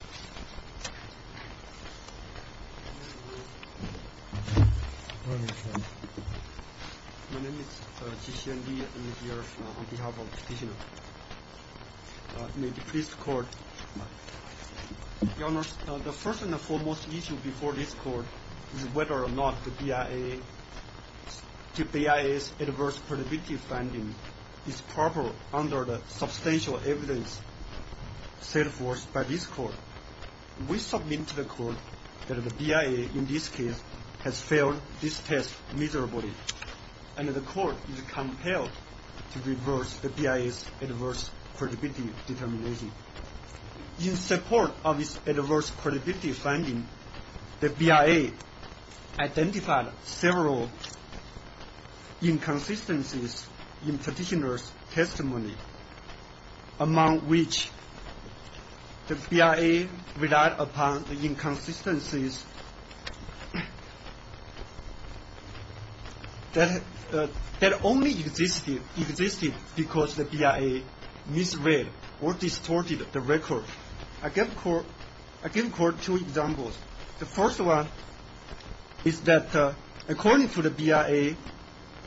My name is Qi Xianli. I am here on behalf of the petitioner. In the first court, Your Honor, the first and foremost issue before this court is whether or not the BIA's adverse predictive finding is proper under the substantial evidence set forth by this court. We submit to the court that the BIA in this case has failed this test miserably, and the court is compelled to reverse the BIA's adverse predictive determination. In support of its adverse predictive finding, the BIA identified several inconsistencies in the petitioner's testimony, among which the BIA relied upon the inconsistencies that only existed because the BIA misread or distorted the record. I give the court two examples. The first one is that according to the BIA,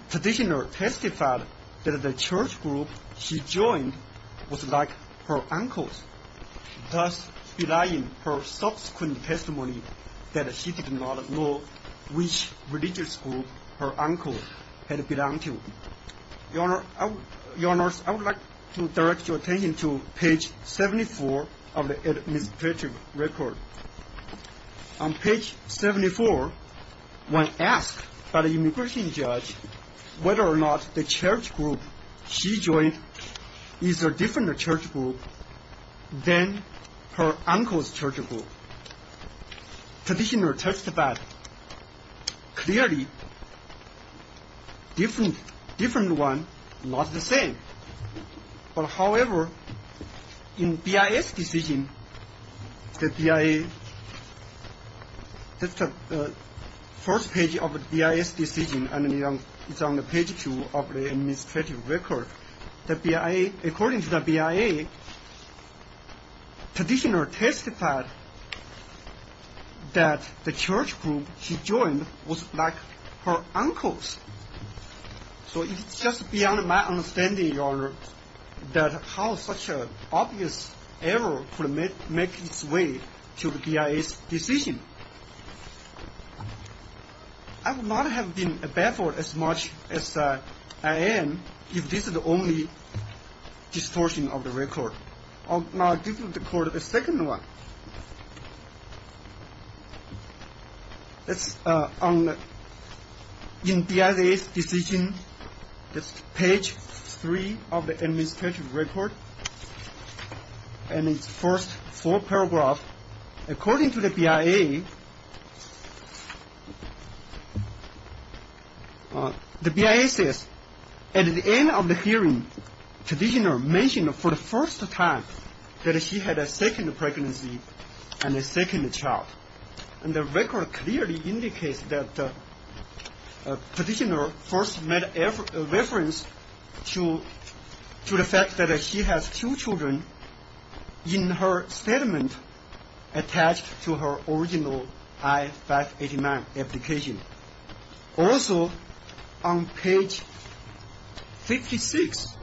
the petitioner testified that the church group she joined was like her uncle's, thus relying on her subsequent testimony that she did not know which religious group her uncle had belonged to. Your Honor, I would like to direct your attention to page 74 of the administrative record. On page 74, when asked by the immigration judge whether or not the church group she joined is a different church group than her uncle's church group, the petitioner testified clearly a different one, not the same. However, in the BIA's decision, the first page of the BIA's decision is on page 2 of the administrative record. According to the BIA, the petitioner testified that the church group she joined was like her uncle's. So it's just beyond my understanding, Your Honor, that how such an obvious error could make its way to the BIA's decision. I would not have been baffled as much as I am if this is the only distortion of the record. Now, this is called the second one. In the BIA's decision, page 3 of the administrative record, in its first four paragraphs, according to the BIA, the BIA says, at the end of the hearing, petitioner mentioned for the first time that she had a second pregnancy and a second child. And the record clearly indicates that the petitioner first made a reference to the fact that she has two children in her statement attached to her original I-589 application. Also, on page 56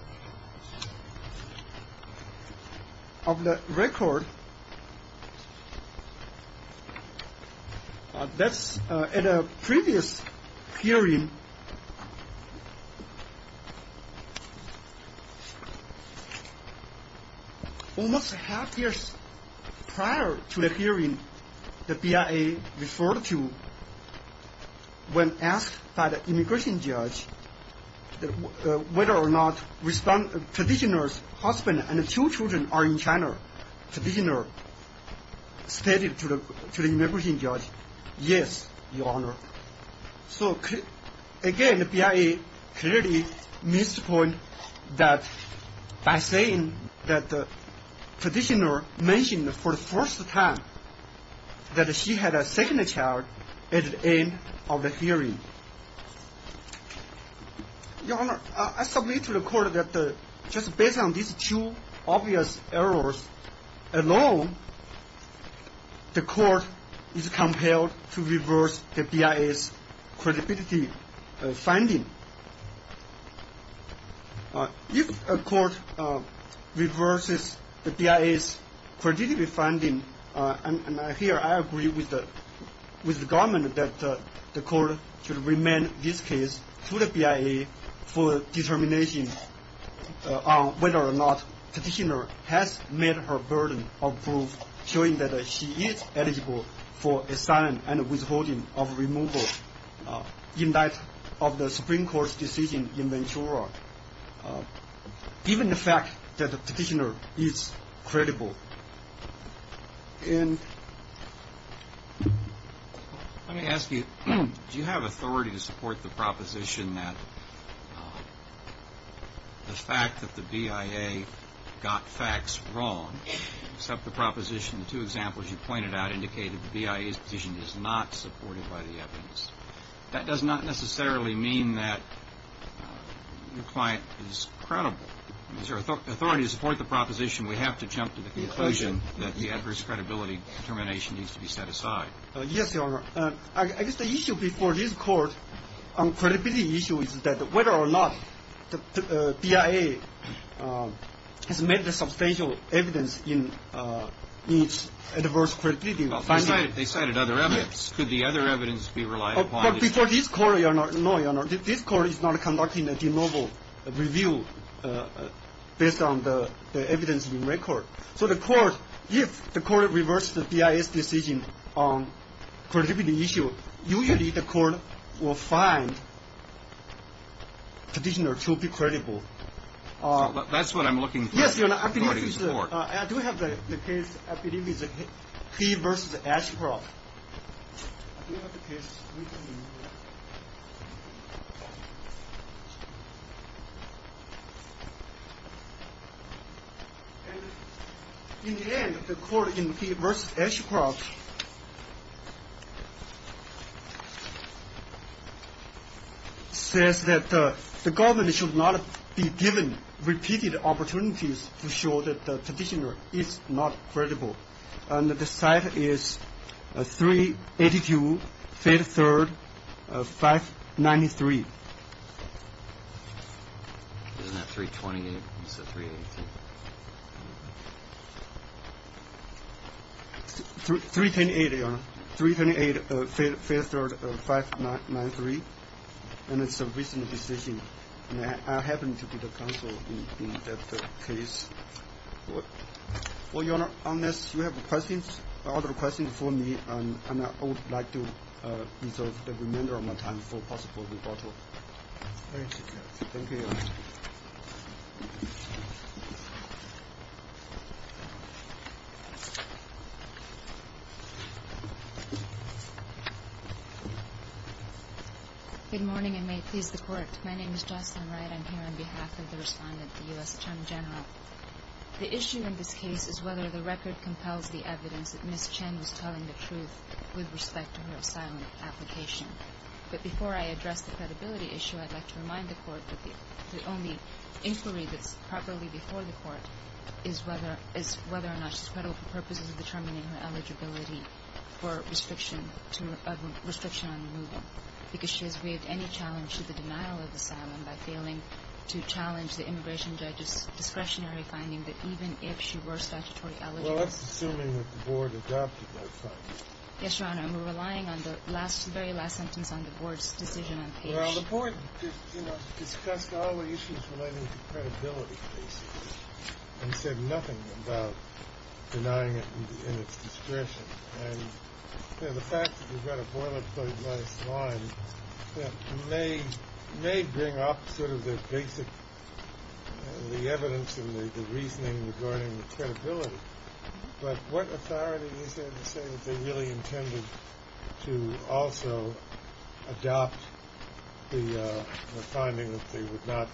of the record, at a previous hearing, almost half a year prior to the hearing, the BIA referred to when asked by the immigration judge whether or not petitioner's husband and two children are in China, petitioner stated to the immigration judge, yes, Your Honor. So, again, the BIA clearly missed the point that by saying that the petitioner mentioned for the first time that she had a second child at the end of the hearing. Your Honor, I submit to the court that just based on these two obvious errors alone, the court is compelled to reverse the BIA's credibility finding. If a court reverses the BIA's credibility finding, and here I agree with the government that the court should remand this case to the BIA for determination on whether or not petitioner has met her burden of proof showing that she is eligible for assignment and withholding of removal in light of the Supreme Court's decision in Ventura, given the fact that the petitioner is credible. Let me ask you, do you have authority to support the proposition that the fact that the BIA got facts wrong, except the proposition, the two examples you pointed out indicated the BIA's position is not supported by the evidence. That does not necessarily mean that the client is credible. Is there authority to support the proposition? We have to jump to the conclusion that the adverse credibility determination needs to be set aside. Yes, Your Honor. I guess the issue before this court on credibility issue is that whether or not the BIA has made the substantial evidence in its adverse credibility finding. They cited other evidence. Could the other evidence be relied upon? Before this court, Your Honor, this court is not conducting a de novo review based on the evidence in record. So the court, if the court reverses the BIA's decision on credibility issue, usually the court will find petitioner to be credible. That's what I'm looking for. Yes, Your Honor. I do have the case, I believe it's P versus Ashcroft. I do have the case written in here. In the end, the court in P versus Ashcroft says that the government should not be given repeated opportunities to show that the petitioner is not credible. And the site is 382 Fifth Third 593. Isn't that 328 instead of 318? 3108, Your Honor. 3108 Fifth Third 593. And it's a recent decision. I happen to be the counsel in that case. Well, Your Honor, unless you have other questions for me, I would like to reserve the remainder of my time for possible rebuttal. Good morning, and may it please the court. My name is Jocelyn Wright. I'm here on behalf of the respondent, the U.S. Attorney General. The issue in this case is whether the record compels the evidence that Ms. Chen was telling the truth with respect to her asylum application. But before I address the credibility issue, I'd like to remind the court that the only inquiry that's properly before the court is whether or not she's credible for purposes of determining her eligibility for restriction on removal. Because she has waived any challenge to the denial of asylum by failing to challenge the immigration judge's discretionary finding that even if she were statutory eligible, Well, that's assuming that the board adopted those findings. Yes, Your Honor, I'm relying on the last very last sentence on the board's decision. Well, the board discussed all the issues relating to credibility and said nothing about denying it in its discretion. And the fact that we've got a boilerplate last line may may bring up sort of the basic, the evidence and the reasoning regarding credibility. But what authority is there to say that they really intended to also adopt the finding that they would not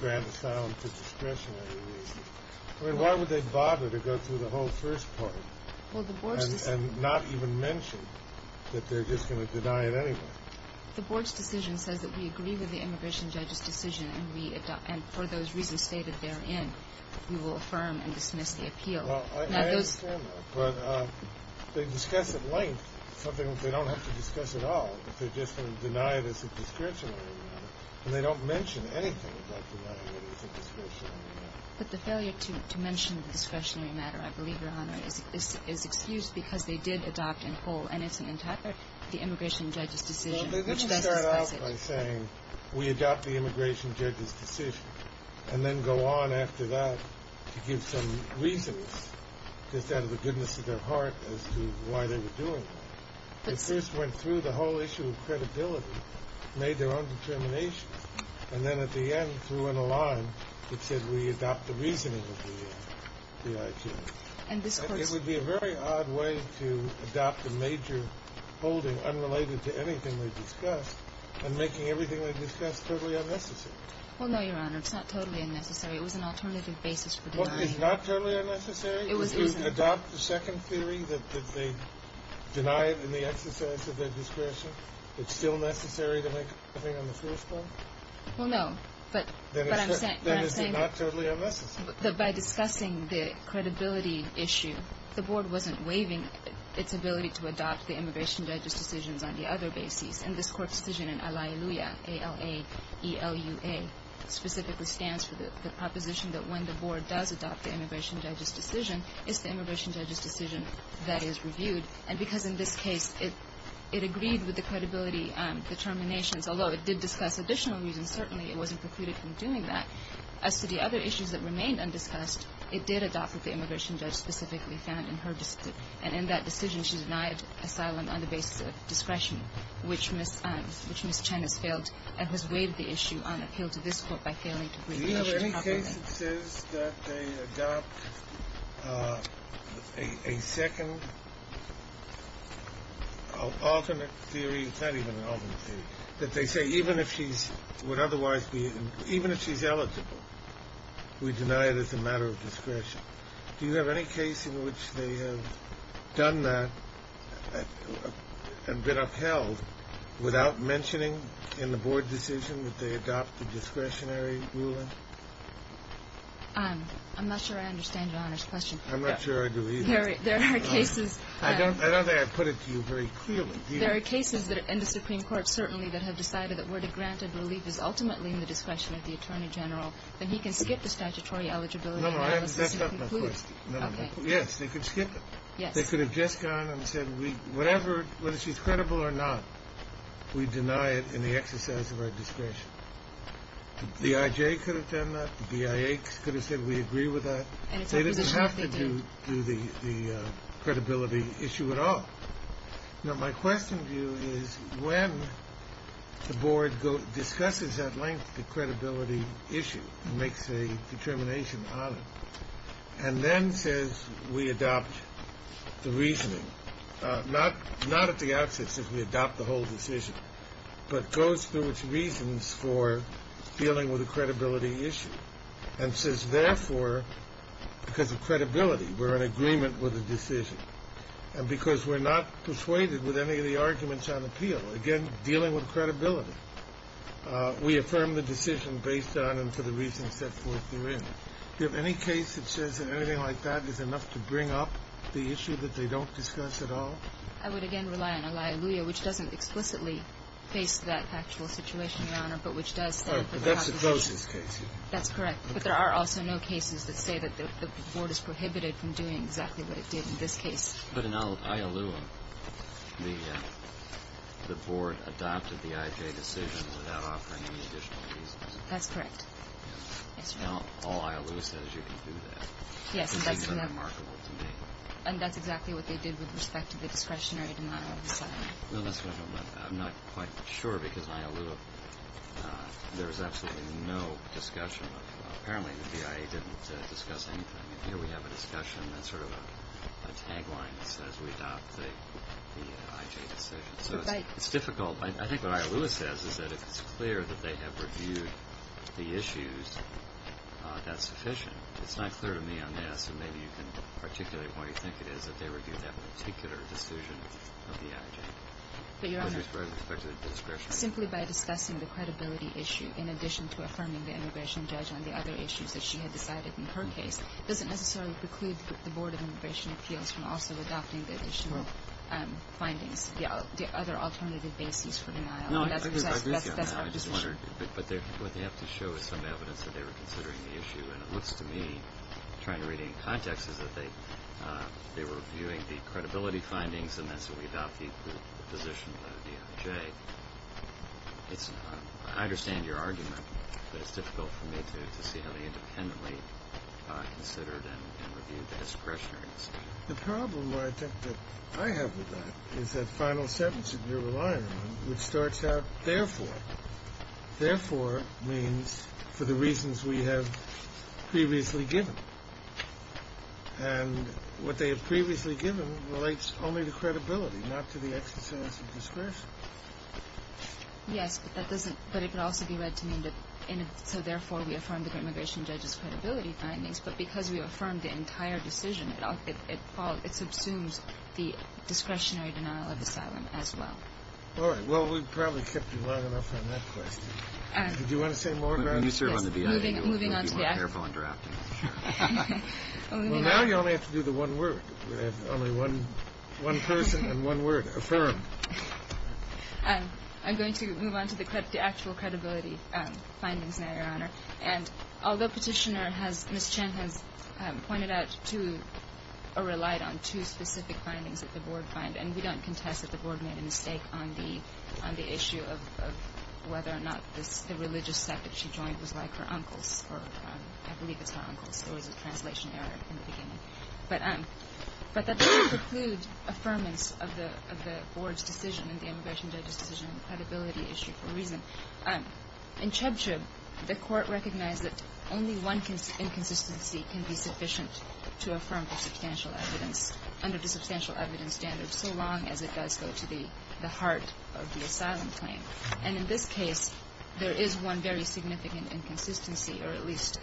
grant asylum for discretionary reasons? I mean, why would they bother to go through the whole first part and not even mention that they're just going to deny it anyway? The board's decision says that we agree with the immigration judge's decision. And for those reasons stated therein, we will affirm and dismiss the appeal. Well, I understand that. But they discuss at length something that they don't have to discuss at all, that they're just going to deny it as a discretionary matter. And they don't mention anything about denying it as a discretionary matter. But the failure to mention the discretionary matter, I believe, Your Honor, is excused because they did adopt in whole. And it's an intact the immigration judge's decision. Well, they did start out by saying we adopt the immigration judge's decision and then go on after that to give some reasons just out of the goodness of their heart as to why they were doing it. They first went through the whole issue of credibility, made their own determinations, and then at the end threw in a line that said we adopt the reasoning of the DIT. It would be a very odd way to adopt a major holding unrelated to anything they discussed and making everything they discussed totally unnecessary. Well, no, Your Honor. It's not totally unnecessary. It was an alternative basis for denying it. What is not totally unnecessary is to adopt the second theory that they deny it in the exercise of their discretion. It's still necessary to make a ruling on the first one? Well, no. But I'm saying that by discussing the credibility of the DIT, the credibility issue, the Board wasn't waiving its ability to adopt the immigration judge's decisions on the other basis. And this court's decision in Al-A-I-L-U-A, A-L-A-E-L-U-A, specifically stands for the proposition that when the Board does adopt the immigration judge's decision, it's the immigration judge's decision that is reviewed. And because in this case it agreed with the credibility determinations, although it did discuss additional reasons, certainly it wasn't precluded from doing that. As to the other issues that remained undiscussed, it did adopt what the immigration judge specifically found in her decision. And in that decision, she denied asylum on the basis of discretion, which Ms. Chen has failed and has waived the issue on appeal to this Court by failing to bring the issue properly. Do you know of any case that says that they adopt a second alternate theory? It's not even an alternate theory. That they say even if she's eligible, we deny it as a matter of discretion. Do you have any case in which they have done that and been upheld without mentioning in the Board decision that they adopt the discretionary ruling? I'm not sure I understand Your Honor's question. I'm not sure I do either. There are cases. I don't think I put it to you very clearly. There are cases in the Supreme Court certainly that have decided that where the granted relief is ultimately in the discretion of the Attorney General, then he can skip the statutory eligibility analysis. No, I haven't messed up my question. Okay. Yes, they could skip it. Yes. They could have just gone and said whatever, whether she's credible or not, we deny it in the exercise of our discretion. The BIJ could have done that. The BIA could have said we agree with that. And it's up to the judge they do. They didn't have to do the credibility issue at all. Now, my question to you is when the Board discusses at length the credibility issue and makes a determination on it and then says we adopt the reasoning, not at the outset says we adopt the whole decision, but goes through its reasons for dealing with a credibility issue and says therefore because of credibility we're in agreement with the decision and because we're not persuaded with any of the arguments on appeal, again, dealing with credibility, we affirm the decision based on and for the reasons set forth therein. Do you have any case that says anything like that is enough to bring up the issue that they don't discuss at all? I would, again, rely on a liability which doesn't explicitly face that actual situation, Your Honor, but which does set up a conversation. That's the closest case. That's correct. But there are also no cases that say that the Board is prohibited from doing exactly what it did in this case. But in Iowa, the Board adopted the IJ decision without offering any additional reasons. That's correct. All Iowa says you can do that. Yes, and that's exactly what they did with respect to the discretionary denial of asylum. I'm not quite sure because in Iowa there was absolutely no discussion. Apparently the BIA didn't discuss anything. Here we have a discussion that's sort of a tagline that says we adopt the IJ decision. So it's difficult. I think what Iowa says is that if it's clear that they have reviewed the issues, that's sufficient. It's not clear to me on this, and maybe you can articulate why you think it is that they reviewed that particular decision of the IJ. But, Your Honor, simply by discussing the credibility issue, in addition to affirming the immigration judge on the other issues that she had decided in her case, doesn't necessarily preclude the Board of Immigration Appeals from also adopting the additional findings, the other alternative bases for denial. No, I agree with you on that. I just wondered. And it looks to me, trying to read it in context, is that they were reviewing the credibility findings and that's what we adopt the position of the IJ. I understand your argument, but it's difficult for me to see how they independently considered and reviewed the discretionary decision. The problem, I think, that I have with that is that final sentence that you're relying on, which starts out, therefore means for the reasons we have previously given. And what they have previously given relates only to credibility, not to the exercise of discretion. Yes, but it could also be read to mean that, so therefore we affirm the immigration judge's credibility findings, but because we affirmed the entire decision, it subsumes the discretionary denial of asylum as well. All right. Well, we've probably kept you long enough on that question. Do you want to say more, Your Honor? Yes. Moving on to the actual. Be more careful interrupting. Well, now you only have to do the one word. Only one person and one word. Affirm. I'm going to move on to the actual credibility findings now, Your Honor. And although Petitioner has, Ms. Chen has pointed out to, or relied on two specific findings that the Board find, and we don't contest that the Board made a mistake on the issue of whether or not the religious sect that she joined was like her uncle's, or I believe it's her uncle's. There was a translation error in the beginning. But that doesn't preclude affirmance of the Board's decision and the immigration judge's decision on the credibility issue for a reason. In Chebcheb, the Court recognized that only one inconsistency can be sufficient to affirm the substantial evidence under the substantial evidence standard so long as it does go to the heart of the asylum claim. And in this case, there is one very significant inconsistency, or at least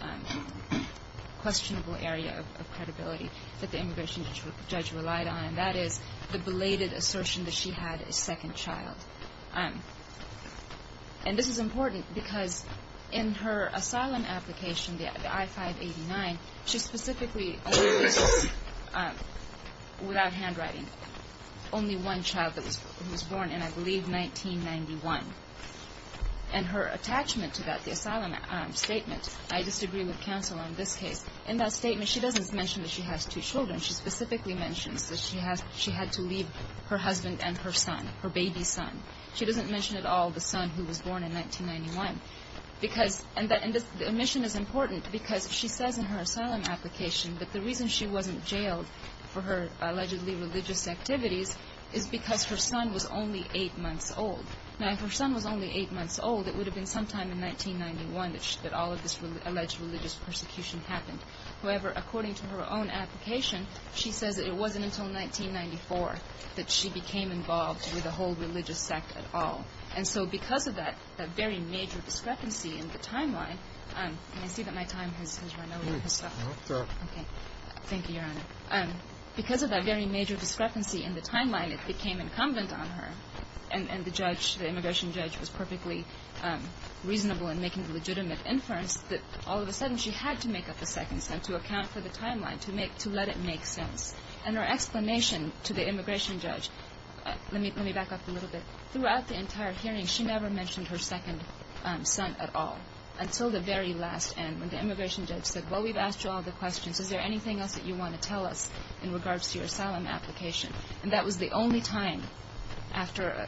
questionable area of credibility that the immigration judge relied on, and that is the belated assertion that she had a second child. And this is important because in her asylum application, the I-589, she specifically only places, without handwriting, only one child who was born in, I believe, 1991. And her attachment to that, the asylum statement, I disagree with counsel on this case. In that statement, she doesn't mention that she has two children. She specifically mentions that she had to leave her husband and her son, her baby son. She doesn't mention at all the son who was born in 1991. And the omission is important because she says in her asylum application that the reason she wasn't jailed for her allegedly religious activities is because her son was only eight months old. Now, if her son was only eight months old, it would have been sometime in 1991 that all of this alleged religious persecution happened. However, according to her own application, she says it wasn't until 1994 that she became involved with a whole religious sect at all. And so because of that very major discrepancy in the timeline, and I see that my time has run over. Thank you, Your Honor. Because of that very major discrepancy in the timeline, it became incumbent on her, and the judge, the immigration judge, was perfectly reasonable in making the legitimate inference that all of a sudden she had to make up a second son to account for the timeline, to let it make sense. And her explanation to the immigration judge, let me back up a little bit. Throughout the entire hearing, she never mentioned her second son at all until the very last end when the immigration judge said, well, we've asked you all the questions. Is there anything else that you want to tell us in regards to your asylum application? And that was the only time after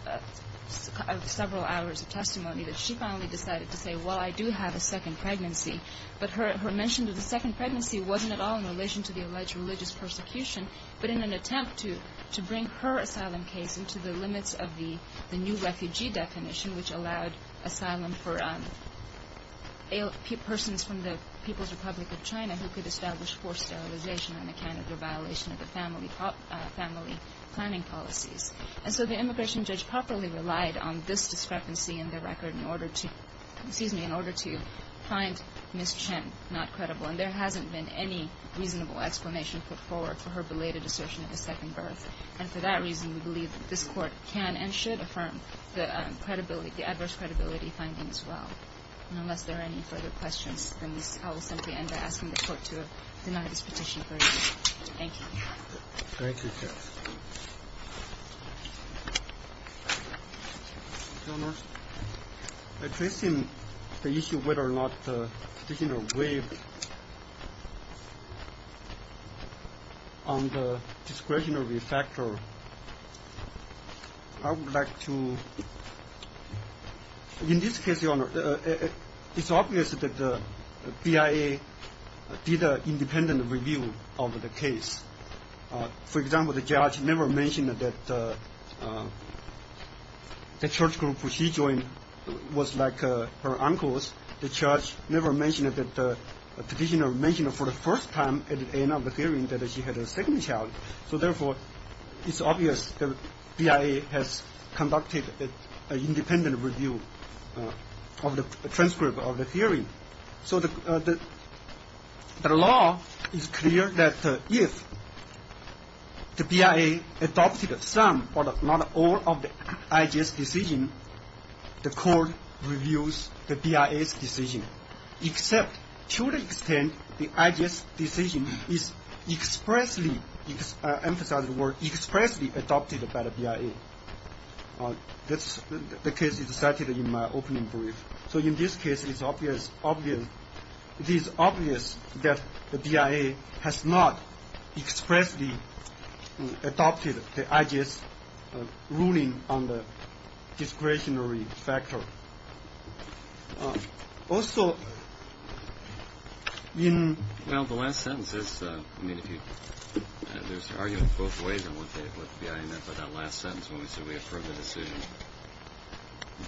several hours of testimony that she finally decided to say, well, I do have a second pregnancy. But her mention of the second pregnancy wasn't at all in relation to the alleged religious persecution, but in an attempt to bring her asylum case into the limits of the new refugee definition which allowed asylum for persons from the People's Republic of China who could establish forced sterilization on account of their violation of the family planning policies. And so the immigration judge properly relied on this discrepancy in the record in order to find Ms. Chen not credible. And there hasn't been any reasonable explanation put forward for her belated assertion of a second birth. And for that reason, we believe that this Court can and should affirm the credibility, the adverse credibility findings as well. And unless there are any further questions, then I will simply end by asking the Court to deny this petition for review. Thank you. Thank you, Judge. Your Honor, addressing the issue of whether or not the petitioner waived on the discretionary factor, I would like to – in this case, Your Honor, it's obvious that the BIA did an independent review of the case. For example, the judge never mentioned that the church group where she joined was like her uncle's. The judge never mentioned that the petitioner mentioned for the first time at the end of the hearing that she had a second child. So therefore, it's obvious the BIA has conducted an independent review of the transcript of the hearing. So the law is clear that if the BIA adopted some or not all of the IJS decision, the Court reviews the BIA's decision. Except to the extent the IJS decision is expressly – emphasized the word expressly adopted by the BIA. The case is cited in my opening brief. So in this case, it's obvious that the BIA has not expressly adopted the IJS ruling on the discretionary factor. Also, in – Well, the last sentence is – I mean, if you – there's argument both ways on what the BIA meant by that last sentence when we said we approved the decision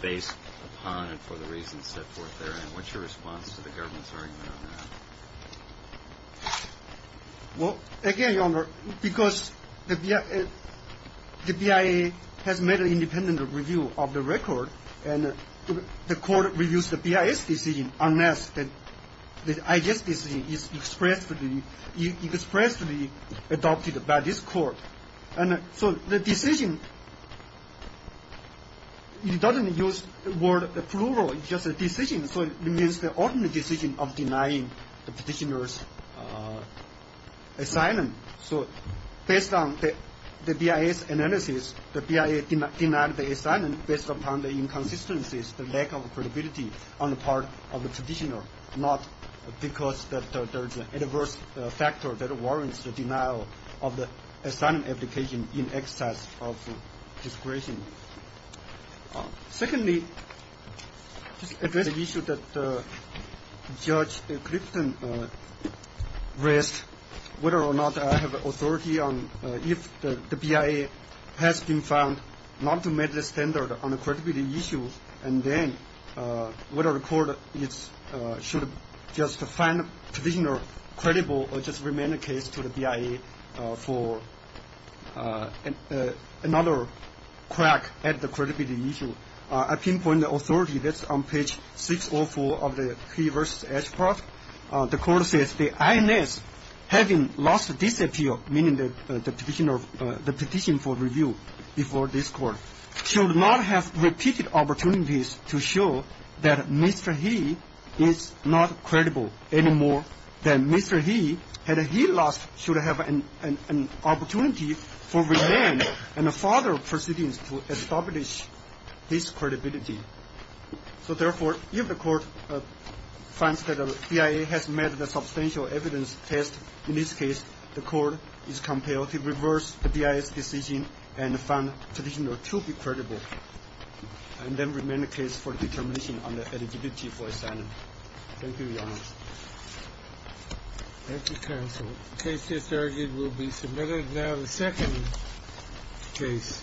based upon and for the reasons set forth there. And what's your response to the government's argument on that? Well, again, Your Honor, because the BIA has made an independent review of the record and the Court reviews the BIA's decision unless the IJS decision is expressly adopted by this Court. And so the decision – it doesn't use the word plural. It's just a decision. So it means the ultimate decision of denying the petitioner's asylum. So based on the BIA's analysis, the BIA denied the asylum based upon the inconsistencies, the lack of credibility on the part of the petitioner, not because there's an adverse factor that warrants the denial of the asylum application in excess of discretion. Secondly, just to address the issue that Judge Clifton raised, whether or not I have authority on if the BIA has been found not to meet the standard on the credibility issue, and then whether the Court should just find the petitioner credible or just remain the case to the BIA for another crack at the credibility issue, I pinpoint the authority that's on page 604 of the P versus H part. The Court says the INS, having lost this appeal, meaning the petition for review before this Court, should not have repeated opportunities to show that Mr. He is not credible anymore, that Mr. He, had he lost, should have an opportunity for remain and further proceedings to establish his credibility. So, therefore, if the Court finds that the BIA has met the substantial evidence test, in this case, the Court is compelled to reverse the BIA's decision and find the petitioner to be credible and then remain the case for determination on the eligibility for asylum. Thank you, Your Honor. Thank you, counsel. The case just argued will be submitted. Now the second case of Cameron v. Ashcroft.